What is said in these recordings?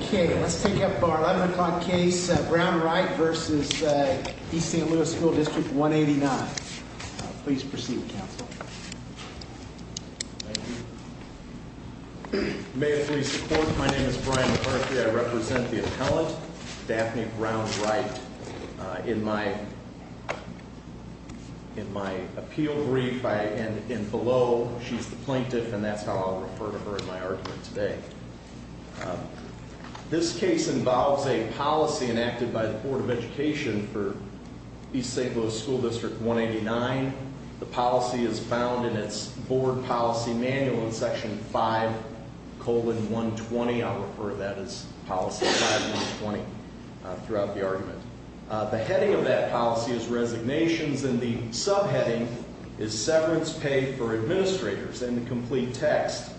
Okay, let's take up our 11 o'clock case, Brown-Wright v. East St. Louis District 189. Please proceed, counsel. Thank you. May it please the court, my name is Brian McCarthy. I represent the appellant, Daphne Brown-Wright. In my appeal brief, and below, she's the plaintiff, and that's how I'll refer to her in my argument today. This case involves a policy enacted by the Board of Education for East St. Louis School District 189. The policy is found in its board policy manual in section 5-120. I'll refer to that as policy 5-120 throughout the argument. The heading of that policy is resignations, and the subheading is severance pay for administrators, and the complete text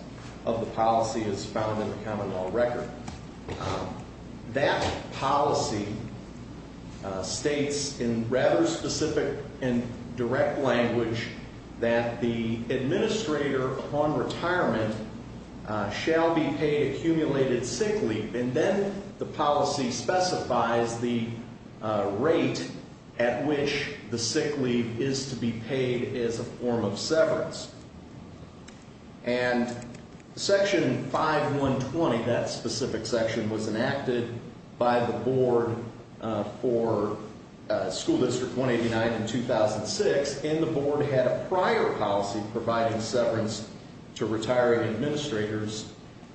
of the policy is found in the common law record. That policy states in rather specific and direct language that the administrator upon retirement shall be paid accumulated sick leave, and then the policy specifies the rate at which the sick leave is to be paid as a form of severance. And section 5-120, that specific section, was enacted by the board for School District 189 in 2006, and the board had a prior policy providing severance to retiring administrators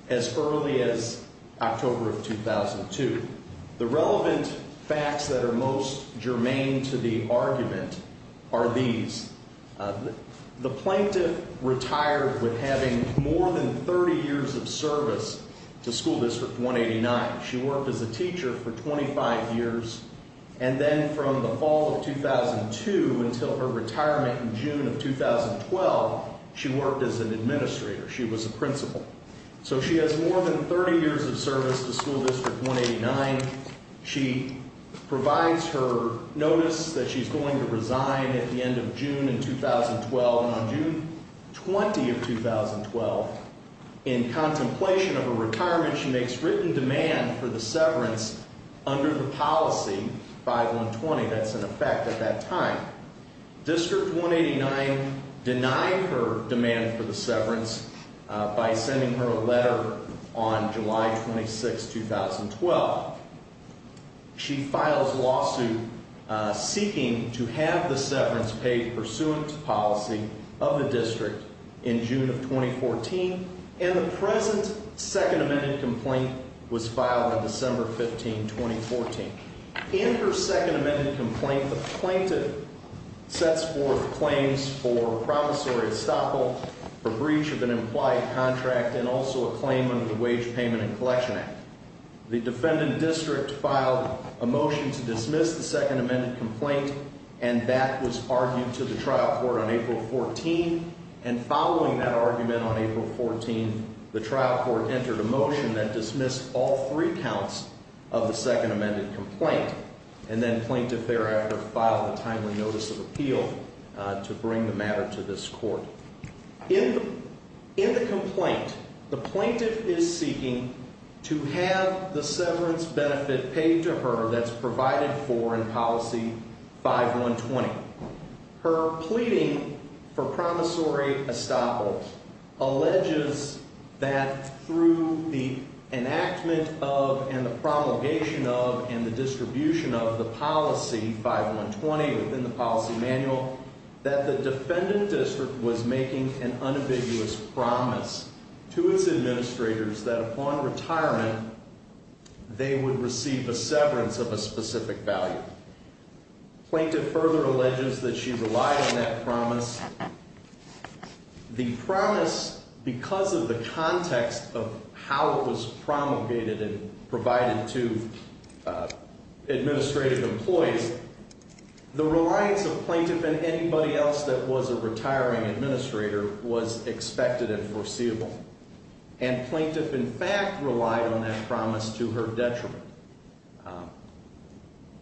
as early as October of 2002. The relevant facts that are most germane to the argument are these. The plaintiff retired with having more than 30 years of service to School District 189. She worked as a teacher for 25 years, and then from the fall of 2002 until her retirement in June of 2012, she worked as an administrator. She was a principal. So she has more than 30 years of service to School District 189. She provides her notice that she's going to resign at the end of June in 2012. And on June 20 of 2012, in contemplation of her retirement, she makes written demand for the severance under the policy 5-120. That's in effect at that time. District 189 denied her demand for the severance by sending her a letter on July 26, 2012. She files lawsuit seeking to have the severance paid pursuant to policy of the district in June of 2014, and the present Second Amendment complaint was filed on December 15, 2014. In her Second Amendment complaint, the plaintiff sets forth claims for promissory estoppel, for breach of an implied contract, and also a claim under the Wage Payment and Collection Act. The defendant district filed a motion to dismiss the Second Amendment complaint, and that was argued to the trial court on April 14. And following that argument on April 14, the trial court entered a motion that dismissed all three counts of the Second Amendment complaint, and then plaintiff thereafter filed a timely notice of appeal to bring the matter to this court. In the complaint, the plaintiff is seeking to have the severance benefit paid to her that's provided for in policy 5-120. Her pleading for promissory estoppel alleges that through the enactment of, and the promulgation of, and the distribution of the policy 5-120 within the policy manual, that the defendant district was making an unambiguous promise to its administrators that upon retirement they would receive a severance of a specific value. Plaintiff further alleges that she relied on that promise. The promise, because of the context of how it was promulgated and provided to administrative employees, the reliance of plaintiff and anybody else that was a retiring administrator was expected and foreseeable. And plaintiff, in fact, relied on that promise to her detriment.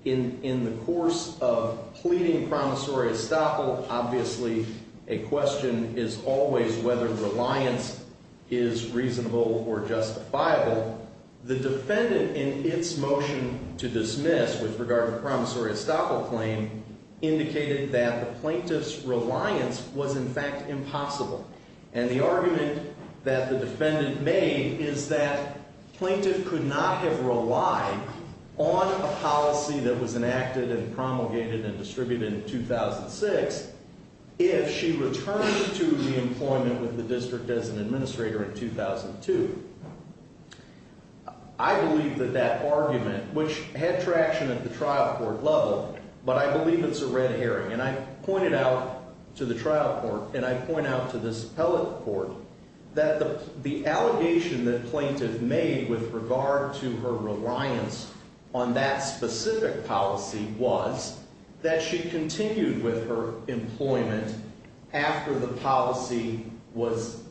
In the course of pleading promissory estoppel, obviously a question is always whether reliance is reasonable or justifiable. The defendant, in its motion to dismiss with regard to the promissory estoppel claim, indicated that the plaintiff's reliance was, in fact, impossible. And the argument that the defendant made is that plaintiff could not have relied on a policy that was enacted and promulgated and distributed in 2006 if she returned to the employment with the district as an administrator in 2002. I believe that that argument, which had traction at the trial court level, but I believe it's a red herring. And I pointed out to the trial court, and I point out to this appellate court, that the allegation that plaintiff made with regard to her reliance on that specific policy was that she continued with her employment after the policy was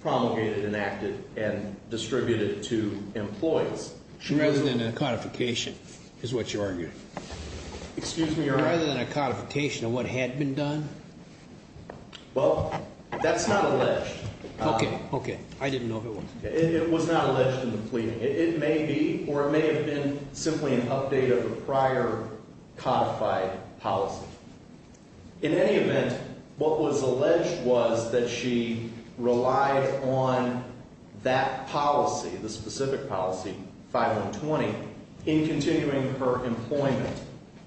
promulgated, enacted, and distributed to employees. She was in a codification, is what you argued. Excuse me, Your Honor. Rather than a codification of what had been done? Well, that's not alleged. Okay, okay. I didn't know if it was. It was not alleged in the pleading. It may be or it may have been simply an update of a prior codified policy. In any event, what was alleged was that she relied on that policy, the specific policy, 5120, in continuing her employment.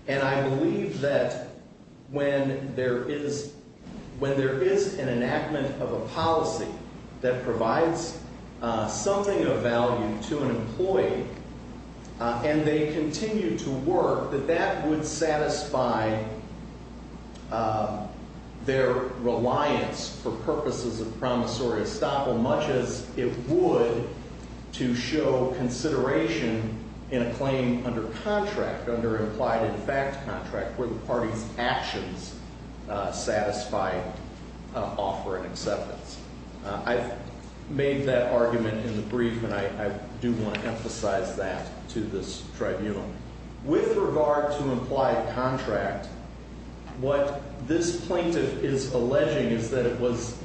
And I believe that when there is an enactment of a policy that provides something of value to an employee and they continue to work, that that would satisfy their reliance for purposes of promissory estoppel much as it would to show consideration in a claim under contract, under implied-in-fact contract, where the party's actions satisfy offer and acceptance. I've made that argument in the brief, and I do want to emphasize that to this tribunal. With regard to implied contract, what this plaintiff is alleging is that it was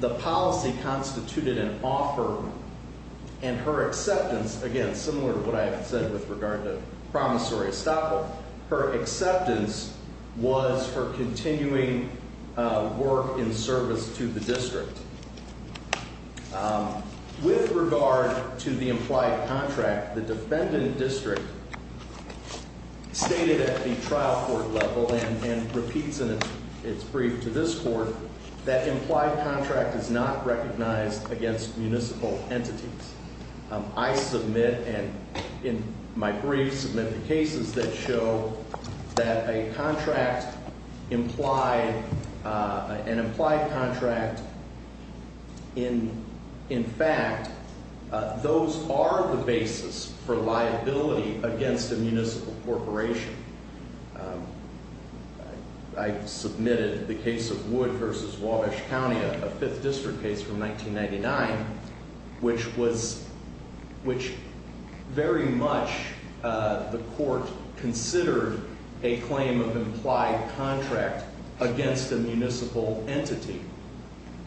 the policy constituted an offer and her acceptance, again, similar to what I have said with regard to promissory estoppel, her acceptance was her continuing work in service to the district. With regard to the implied contract, the defendant district stated at the trial court level and repeats in its brief to this court that implied contract is not recognized against municipal entities. I submit, and in my brief, submit the cases that show that a contract implied, an implied contract, in fact, those are the basis for liability against a municipal corporation. I submitted the case of Wood v. Wabash County, a 5th district case from 1999, which was, which very much the court considered a claim of implied contract against a municipal entity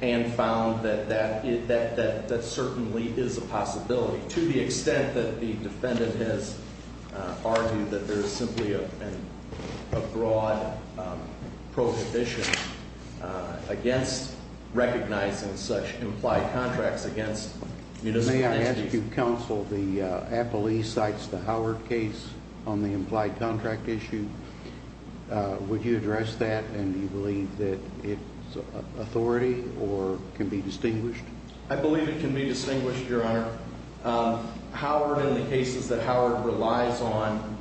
and found that that certainly is a possibility to the extent that the defendant has argued that there is simply a broad prohibition against recognizing such implied contracts against municipal entities. May I ask you, counsel, the appellee cites the Howard case on the implied contract issue. Would you address that, and do you believe that it's authority or can be distinguished? I believe it can be distinguished, Your Honor. Howard and the cases that Howard relies on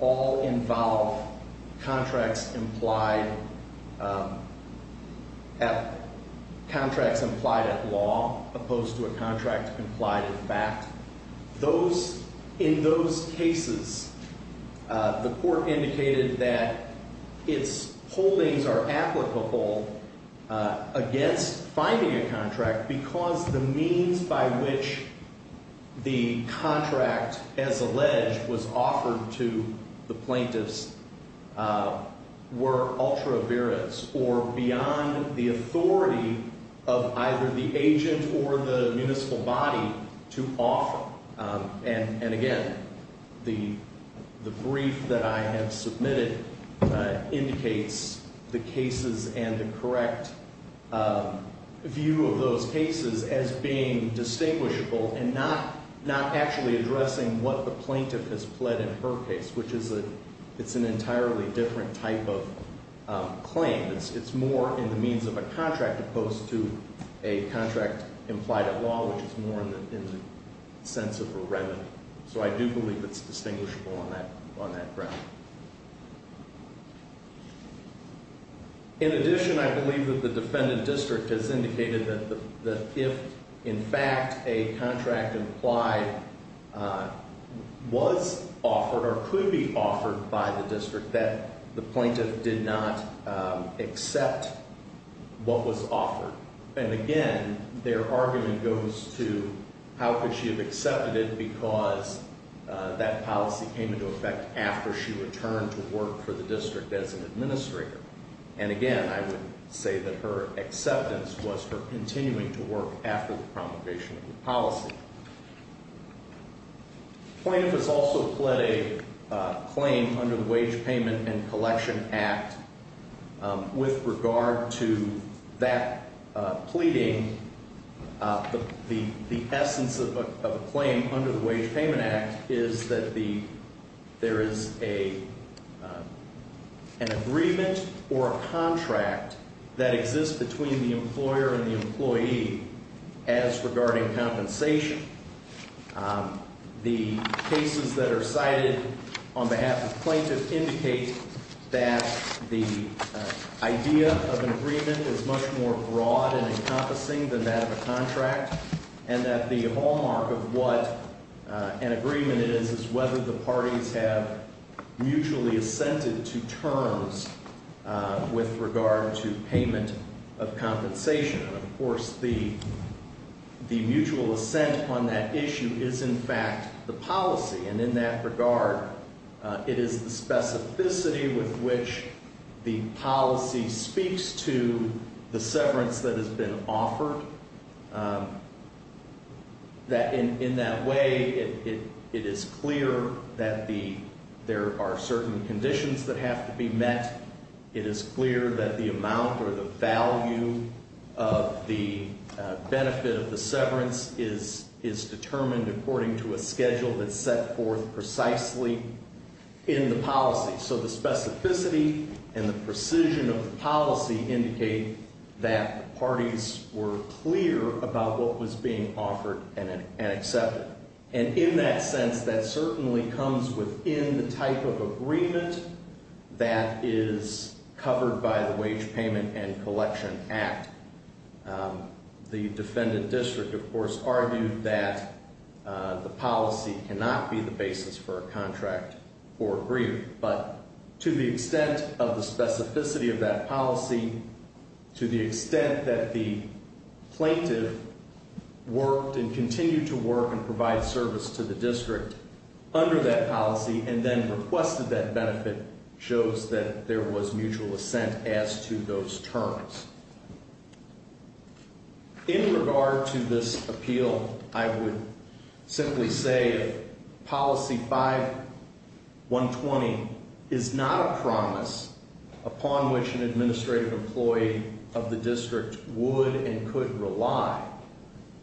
all involve contracts implied at law opposed to a contract implied in fact. Those, in those cases, the court indicated that its holdings are applicable against finding a contract because the means by which the contract, as alleged, was offered to the plaintiffs were ultra viris or beyond the authority of either the agent or the municipal body to offer. And again, the brief that I have submitted indicates the cases and the correct view of those cases as being distinguishable and not actually addressing what the plaintiff has pled in her case, which is an entirely different type of claim. It's more in the means of a contract opposed to a contract implied at law, which is more in the sense of a remedy. So I do believe it's distinguishable on that ground. In addition, I believe that the defendant district has indicated that if, in fact, a contract implied was offered or could be offered by the district, that the plaintiff did not accept what was offered. And again, their argument goes to how could she have accepted it because that policy came into effect after she returned to work for the district as an administrator. And again, I would say that her acceptance was her continuing to work after the promulgation of the policy. The plaintiff has also pled a claim under the Wage Payment and Collection Act. With regard to that pleading, the essence of a claim under the Wage Payment Act is that there is an agreement or a contract that exists between the employer and the employee as regarding compensation. The cases that are cited on behalf of plaintiffs indicate that the idea of an agreement is much more broad and encompassing than that of a contract and that the hallmark of what an agreement is is whether the parties have mutually assented to terms with regard to payment of compensation. Of course, the mutual assent on that issue is, in fact, the policy. And in that regard, it is the specificity with which the policy speaks to the severance that has been offered. In that way, it is clear that there are certain conditions that have to be met. It is clear that the amount or the value of the benefit of the severance is determined according to a schedule that's set forth precisely in the policy. So the specificity and the precision of the policy indicate that the parties were clear about what was being offered and accepted. And in that sense, that certainly comes within the type of agreement that is covered by the Wage Payment and Collection Act. The defendant district, of course, argued that the policy cannot be the basis for a contract or agreement. But to the extent of the specificity of that policy, to the extent that the plaintiff worked and continued to work and provide service to the district under that policy and then requested that benefit shows that there was mutual assent as to those terms. In regard to this appeal, I would simply say that Policy 5120 is not a promise upon which an administrative employee of the district would and could rely.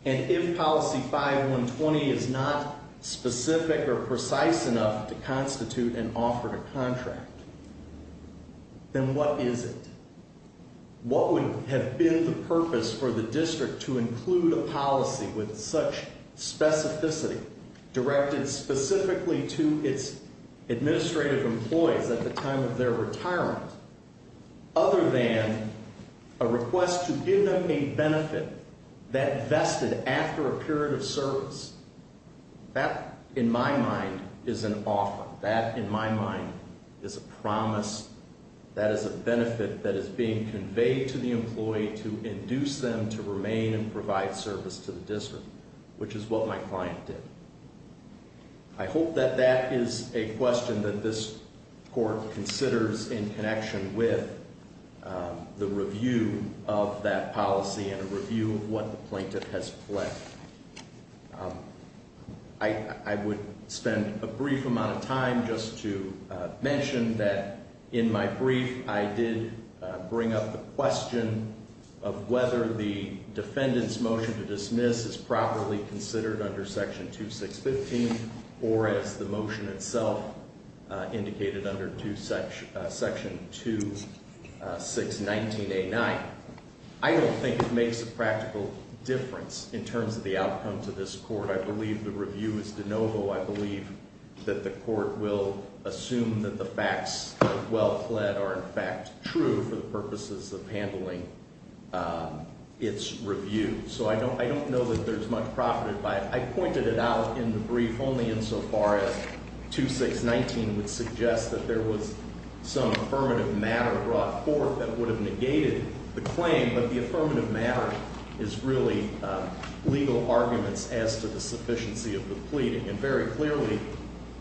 And if Policy 5120 is not specific or precise enough to constitute an offer to contract, then what is it? What would have been the purpose for the district to include a policy with such specificity directed specifically to its administrative employees at the time of their retirement other than a request to give them a benefit that vested after a period of service? That, in my mind, is an offer. That, in my mind, is a promise. That is a benefit that is being conveyed to the employee to induce them to remain and provide service to the district, which is what my client did. I hope that that is a question that this Court considers in connection with the review of that policy and a review of what the plaintiff has pledged. I would spend a brief amount of time just to mention that in my brief, I did bring up the question of whether the defendant's motion to dismiss is properly considered under Section 2615 or as the motion itself indicated under Section 2619A9. I don't think it makes a practical difference in terms of the outcome to this Court. I believe the review is de novo. I believe that the Court will assume that the facts well-fled are, in fact, true for the purposes of handling its review. So I don't know that there's much profited by it. I pointed it out in the brief only insofar as 2619 would suggest that there was some affirmative matter brought forth that would have negated the claim. But the affirmative matter is really legal arguments as to the sufficiency of the pleading. And very clearly,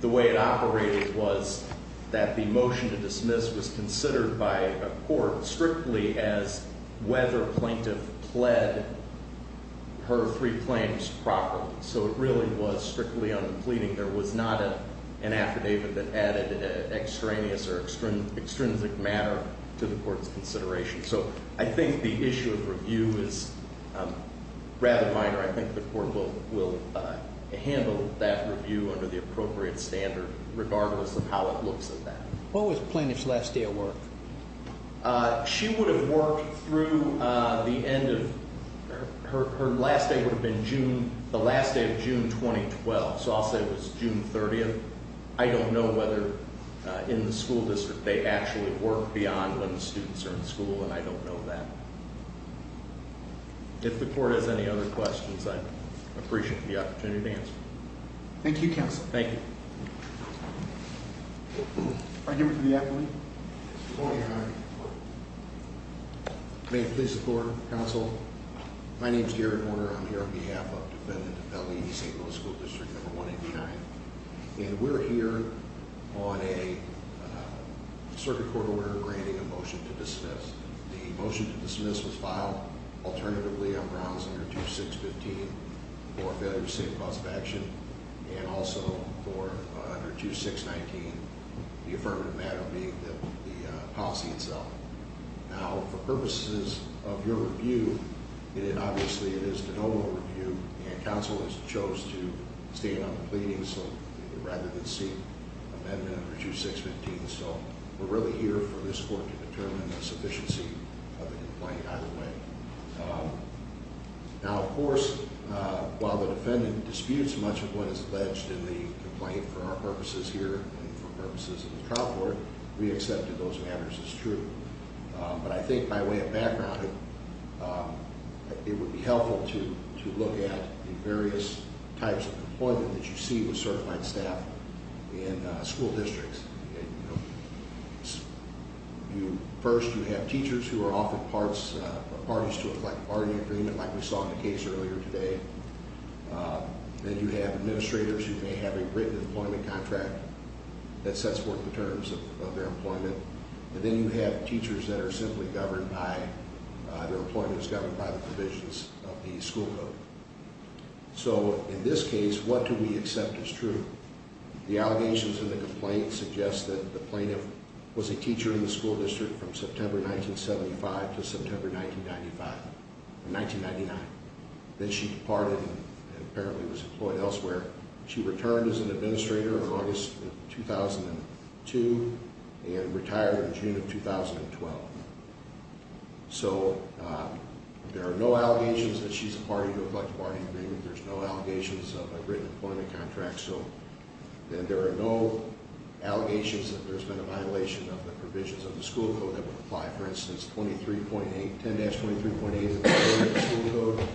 the way it operated was that the motion to dismiss was considered by a court strictly as whether a plaintiff pled her three claims properly. So it really was strictly on the pleading. There was not an affidavit that added extraneous or extrinsic matter to the Court's consideration. So I think the issue of review is rather minor. I think the Court will handle that review under the appropriate standard, regardless of how it looks at that. What was the plaintiff's last day of work? She would have worked through the end of – her last day would have been June – the last day of June 2012. So I'll say it was June 30th. I don't know whether in the school district they actually work beyond when the students are in school, and I don't know that. If the Court has any other questions, I'd appreciate the opportunity to answer them. Thank you, Counsel. Thank you. May it please the Court, Counsel. My name is Garrett Warner. I'm here on behalf of Defendant DeFellini, St. Louis School District No. 189. And we're here on a circuit court order granting a motion to dismiss. The motion to dismiss was filed alternatively on grounds under 2615 for a failure to save cause of action, and also for under 2619, the affirmative matter being the policy itself. Now, for purposes of your review, obviously it is the noble review, and Counsel has chose to stand on the pleading rather than seek amendment under 2615. So we're really here for this Court to determine the sufficiency of the complaint either way. Now, of course, while the defendant disputes much of what is alleged in the complaint for our purposes here and for purposes of the trial court, we accepted those matters as true. But I think by way of background, it would be helpful to look at the various types of employment that you see with certified staff in school districts. First, you have teachers who are offered parties to a collective bargaining agreement, like we saw in the case earlier today. Then you have administrators who may have a written employment contract that sets forth the terms of their employment. And then you have teachers that are simply governed by, their employment is governed by the provisions of the school code. So in this case, what do we accept as true? The allegations in the complaint suggest that the plaintiff was a teacher in the school district from September 1975 to September 1995, or 1999. Then she departed and apparently was employed elsewhere. She returned as an administrator in August of 2002 and retired in June of 2012. So there are no allegations that she's a party to a collective bargaining agreement. There's no allegations of a written employment contract. So then there are no allegations that there's been a violation of the provisions of the school code that would apply. For instance, 10-23.8 of the school code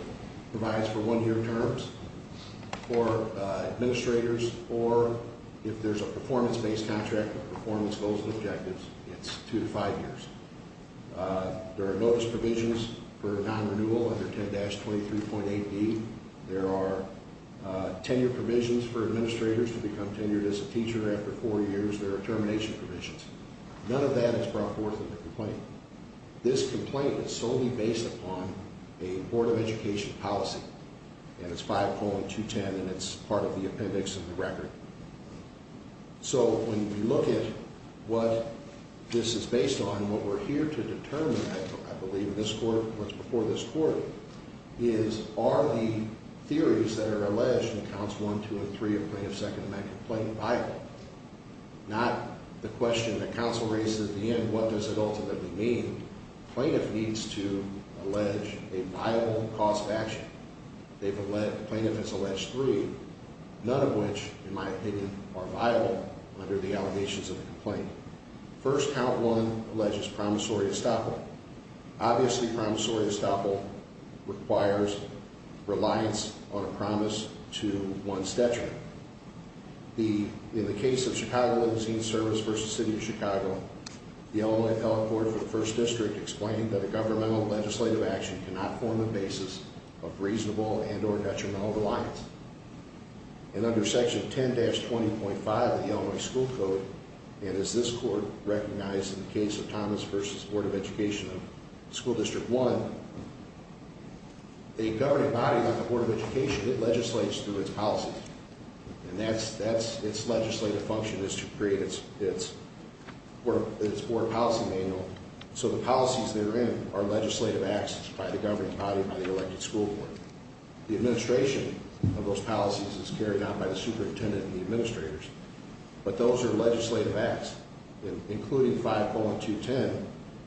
provides for one year terms for administrators. Or if there's a performance-based contract with performance goals and objectives, it's two to five years. There are notice provisions for non-renewal under 10-23.8B. There are tenure provisions for administrators to become tenured as a teacher after four years. There are termination provisions. None of that is brought forth in the complaint. This complaint is solely based upon a Board of Education policy, and it's 5.210, and it's part of the appendix of the record. So when we look at what this is based on, what we're here to determine, I believe, in this court, what's before this court, is are the theories that are alleged in Counts 1, 2, and 3 of Plaintiff's Second Amendment Complaint viable? Not the question that counsel raises at the end, what does it ultimately mean? Plaintiff needs to allege a viable cause of action. Plaintiff has alleged three, none of which, in my opinion, are viable under the allegations of the complaint. First, Count 1 alleges promissory estoppel. Obviously, promissory estoppel requires reliance on a promise to one's detriment. In the case of Chicago Magazine Service v. City of Chicago, the Illinois appellate court for the 1st District explained that a governmental legislative action cannot form a basis of reasonable and or detrimental reliance. And under Section 10-20.5 of the Illinois School Code, and as this court recognized in the case of Thomas v. Board of Education of School District 1, a governing body like the Board of Education, it legislates through its policies. And that's, its legislative function is to create its board policy manual. So the policies therein are legislative acts by the governing body, by the elected school board. The administration of those policies is carried out by the superintendent and the administrators. But those are legislative acts. And including 5.210,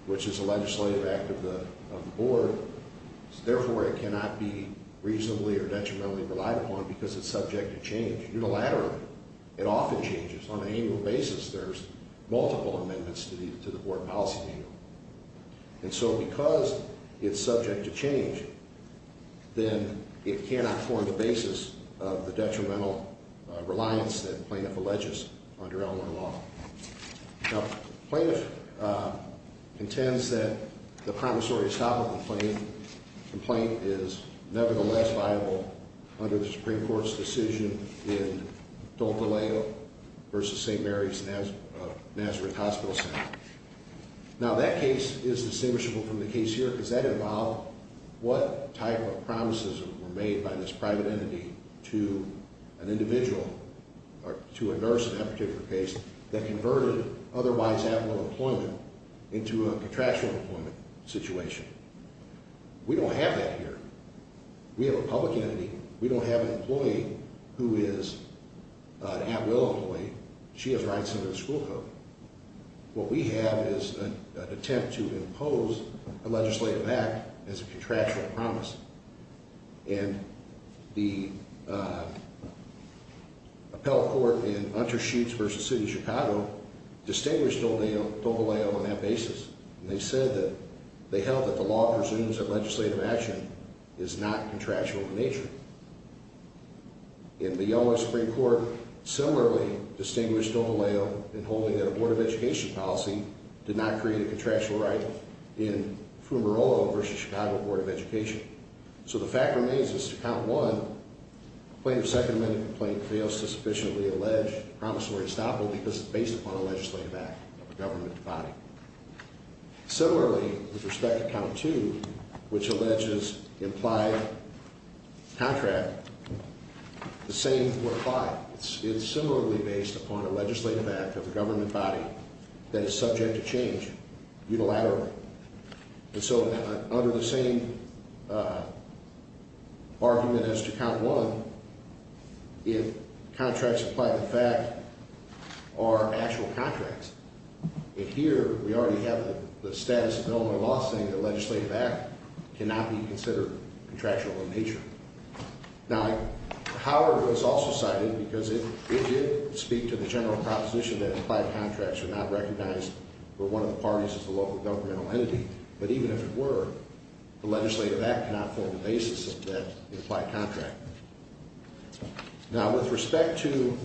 which is a legislative act of the board, therefore it cannot be reasonably or detrimentally relied upon because it's subject to change. Unilaterally, it often changes. On an annual basis, there's multiple amendments to the board policy manual. And so because it's subject to change, then it cannot form the basis of the detrimental reliance that the plaintiff alleges under Illinois law. Now, the plaintiff intends that the promissory stop complaint is nevertheless viable under the Supreme Court's decision in Now, that case is distinguishable from the case here because that involved what type of promises were made by this private entity to an individual, to a nurse in that particular case, that converted otherwise at-will employment into a contractual employment situation. We don't have that here. We have a public entity. We don't have an employee who is an at-will employee. She has rights under the school code. What we have is an attempt to impose a legislative act as a contractual promise. And the appellate court in Untersheets v. City of Chicago distinguished Dovaleo on that basis. And they said that they held that the law presumes that legislative action is not contractual in nature. And the Illinois Supreme Court similarly distinguished Dovaleo in holding that a Board of Education policy did not create a contractual right in Fumarolo v. Chicago Board of Education. So the fact remains is to count one, the plaintiff's second amendment complaint fails to sufficiently allege promissory stop because it's based upon a legislative act of a government body. Similarly, with respect to count two, which alleges implied contract, the same were applied. It's similarly based upon a legislative act of a government body that is subject to change unilaterally. And so under the same argument as to count one, if contracts applied to the fact are actual contracts, if here we already have the status of Illinois law saying that legislative act cannot be considered contractual in nature. Now, Howard was also cited because it did speak to the general proposition that implied contracts were not recognized for one of the parties of the local governmental entity. But even if it were, the legislative act cannot form the basis of that implied contract. Now, with respect to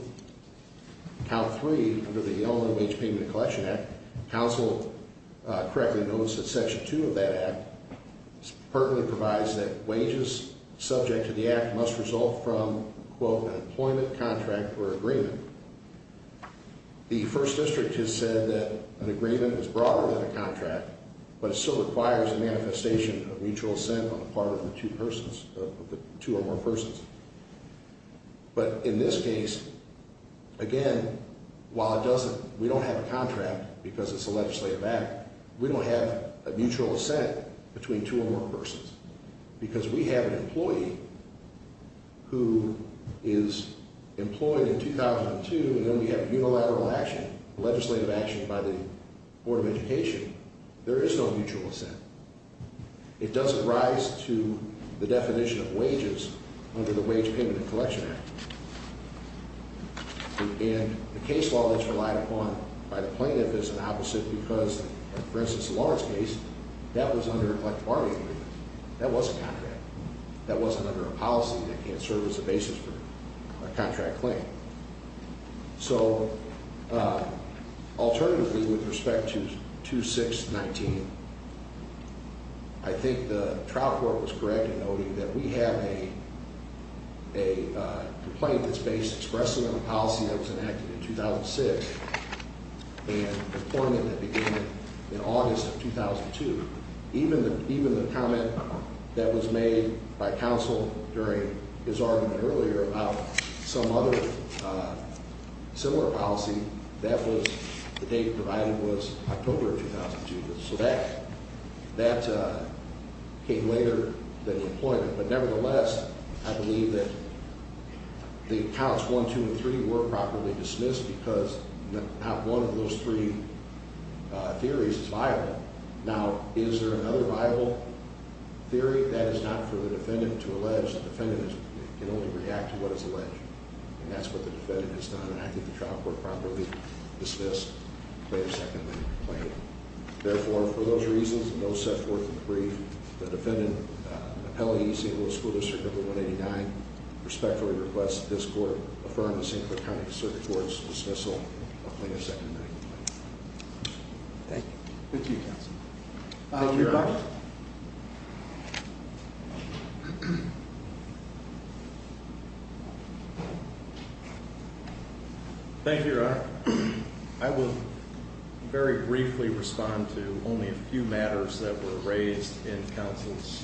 count three, under the Illinois Wage Payment and Collection Act, counsel correctly notes that section two of that act pertinently provides that wages subject to the act must result from, quote, an employment contract or agreement. The first district has said that an agreement is broader than a contract, but it still requires a manifestation of mutual assent on the part of the two or more persons. But in this case, again, while it doesn't, we don't have a contract because it's a legislative act. We don't have a mutual assent between two or more persons because we have an employee who is employed in 2002 and then we have unilateral action, legislative action by the Board of Education. There is no mutual assent. It doesn't rise to the definition of wages under the Wage Payment and Collection Act. And the case law that's relied upon by the plaintiff is an opposite because, for instance, the Lawrence case, that was under a collective bargaining agreement. That was a contract. That wasn't under a policy that can't serve as a basis for a contract claim. So, alternatively, with respect to 2619, I think the trial court was correct in noting that we have a complaint that's based expressly on a policy that was enacted in 2006 and a complaint that began in August of 2002. Even the comment that was made by counsel during his argument earlier about some other similar policy, that was the date provided was October of 2002. So that came later than employment. But nevertheless, I believe that the counts one, two, and three were properly dismissed because not one of those three theories is viable. Now, is there another viable theory? That is not for the defendant to allege. The defendant can only react to what is alleged. And that's what the defendant has done. And I think the trial court probably dismissed the plaintiff's second amendment complaint. Therefore, for those reasons, and those set forth in the brief, the defendant, appellee, St. Louis School District Number 189, respectfully requests that this court affirm the St. Clair County District Court's dismissal of plaintiff's second amendment complaint. Thank you. Thank you, counsel. Thank you, Your Honor. Thank you, Your Honor. I will very briefly respond to only a few matters that were raised in counsel's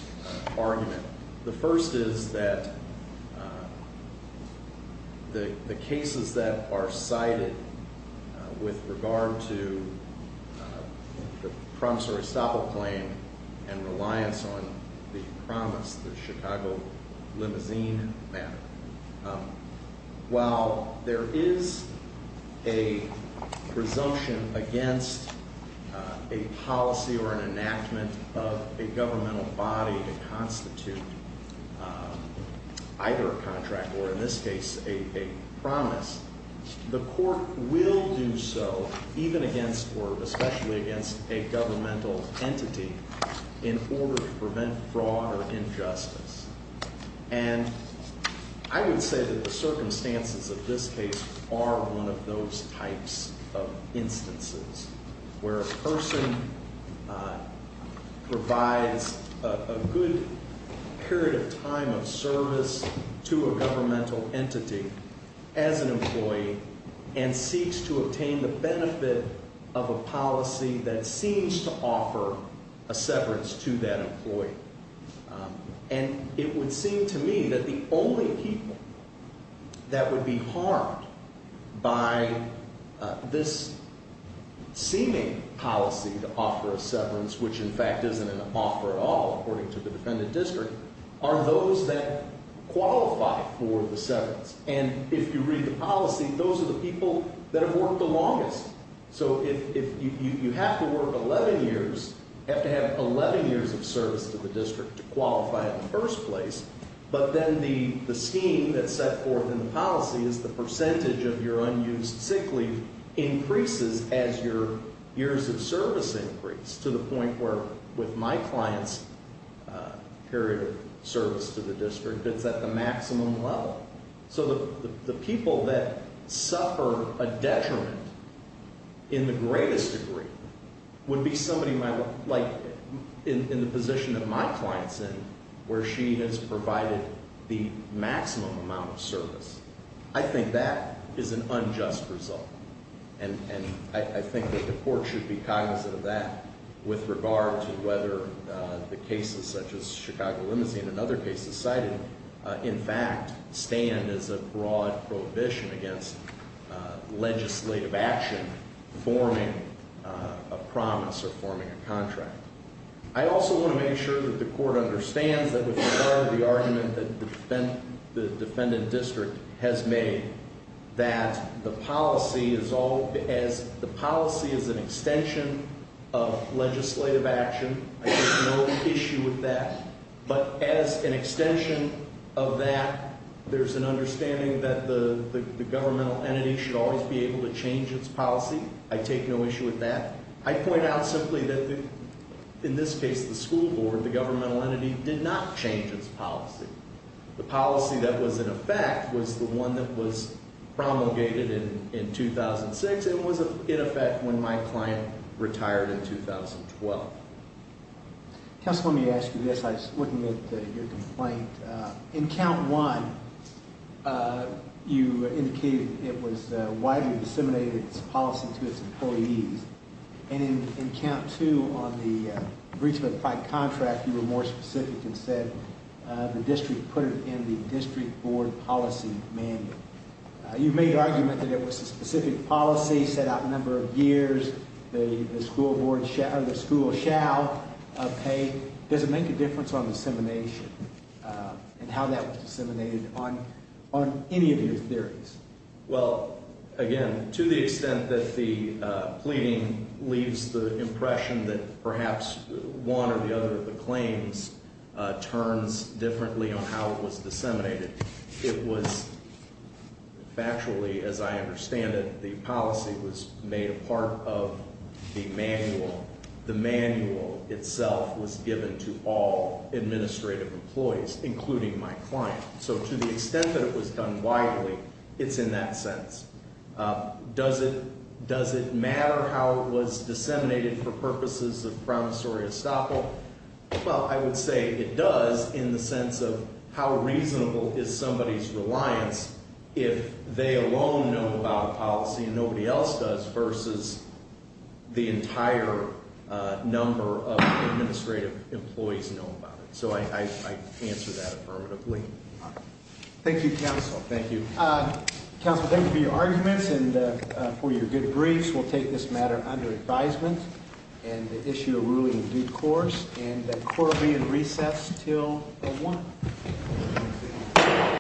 argument. The first is that the cases that are cited with regard to the prompts or estoppel claim and reliance on the promise, the Chicago limousine matter, while there is a presumption against a policy or an enactment of a governmental body to constitute either a contract or, in this case, a promise, the court will do so even against or especially against a governmental entity in order to prevent fraud or injustice. And I would say that the circumstances of this case are one of those types of instances where a person provides a good period of time of service to a governmental entity as an employee and seeks to obtain the benefit of a policy that seems to offer a severance to that employee. And it would seem to me that the only people that would be harmed by this seeming policy to offer a severance, which in fact isn't an offer at all according to the defendant district, are those that qualify for the severance. And if you read the policy, those are the people that have worked the longest. So if you have to work 11 years, you have to have 11 years of service to the district to qualify in the first place, but then the scheme that's set forth in the policy is the percentage of your unused sick leave increases as your years of service increase to the point where, with my client's period of service to the district, it's at the maximum level. So the people that suffer a detriment in the greatest degree would be somebody like in the position that my client's in, where she has provided the maximum amount of service. I think that is an unjust result. And I think that the court should be cognizant of that with regard to whether the cases such as Chicago limousine and other cases cited in fact stand as a broad prohibition against legislative action forming a promise or forming a contract. I also want to make sure that the court understands that with regard to the argument that the defendant district has made, that the policy is an extension of legislative action. I take no issue with that. But as an extension of that, there's an understanding that the governmental entity should always be able to change its policy. I take no issue with that. I point out simply that, in this case, the school board, the governmental entity, did not change its policy. The policy that was in effect was the one that was promulgated in 2006. It was in effect when my client retired in 2012. Counsel, let me ask you this. I was looking at your complaint. In count one, you indicated it was widely disseminated, its policy to its employees. And in count two, on the breach of implied contract, you were more specific and said the district put it in the district board policy manual. You made the argument that it was a specific policy, set out a number of years, the school shall pay. Does it make a difference on dissemination and how that was disseminated on any of your theories? Well, again, to the extent that the pleading leaves the impression that perhaps one or the other of the claims turns differently on how it was disseminated, it was factually, as I understand it, the policy was made a part of the manual. The manual itself was given to all administrative employees, including my client. So to the extent that it was done widely, it's in that sense. Does it matter how it was disseminated for purposes of promissory estoppel? Well, I would say it does in the sense of how reasonable is somebody's reliance if they alone know about a policy and nobody else does versus the entire number of administrative employees know about it. So I answer that affirmatively. Thank you, Counsel. Thank you. Counsel, thank you for your arguments and for your good briefs. We'll take this matter under advisement and issue a ruling in due course and the court will be in recess until 1.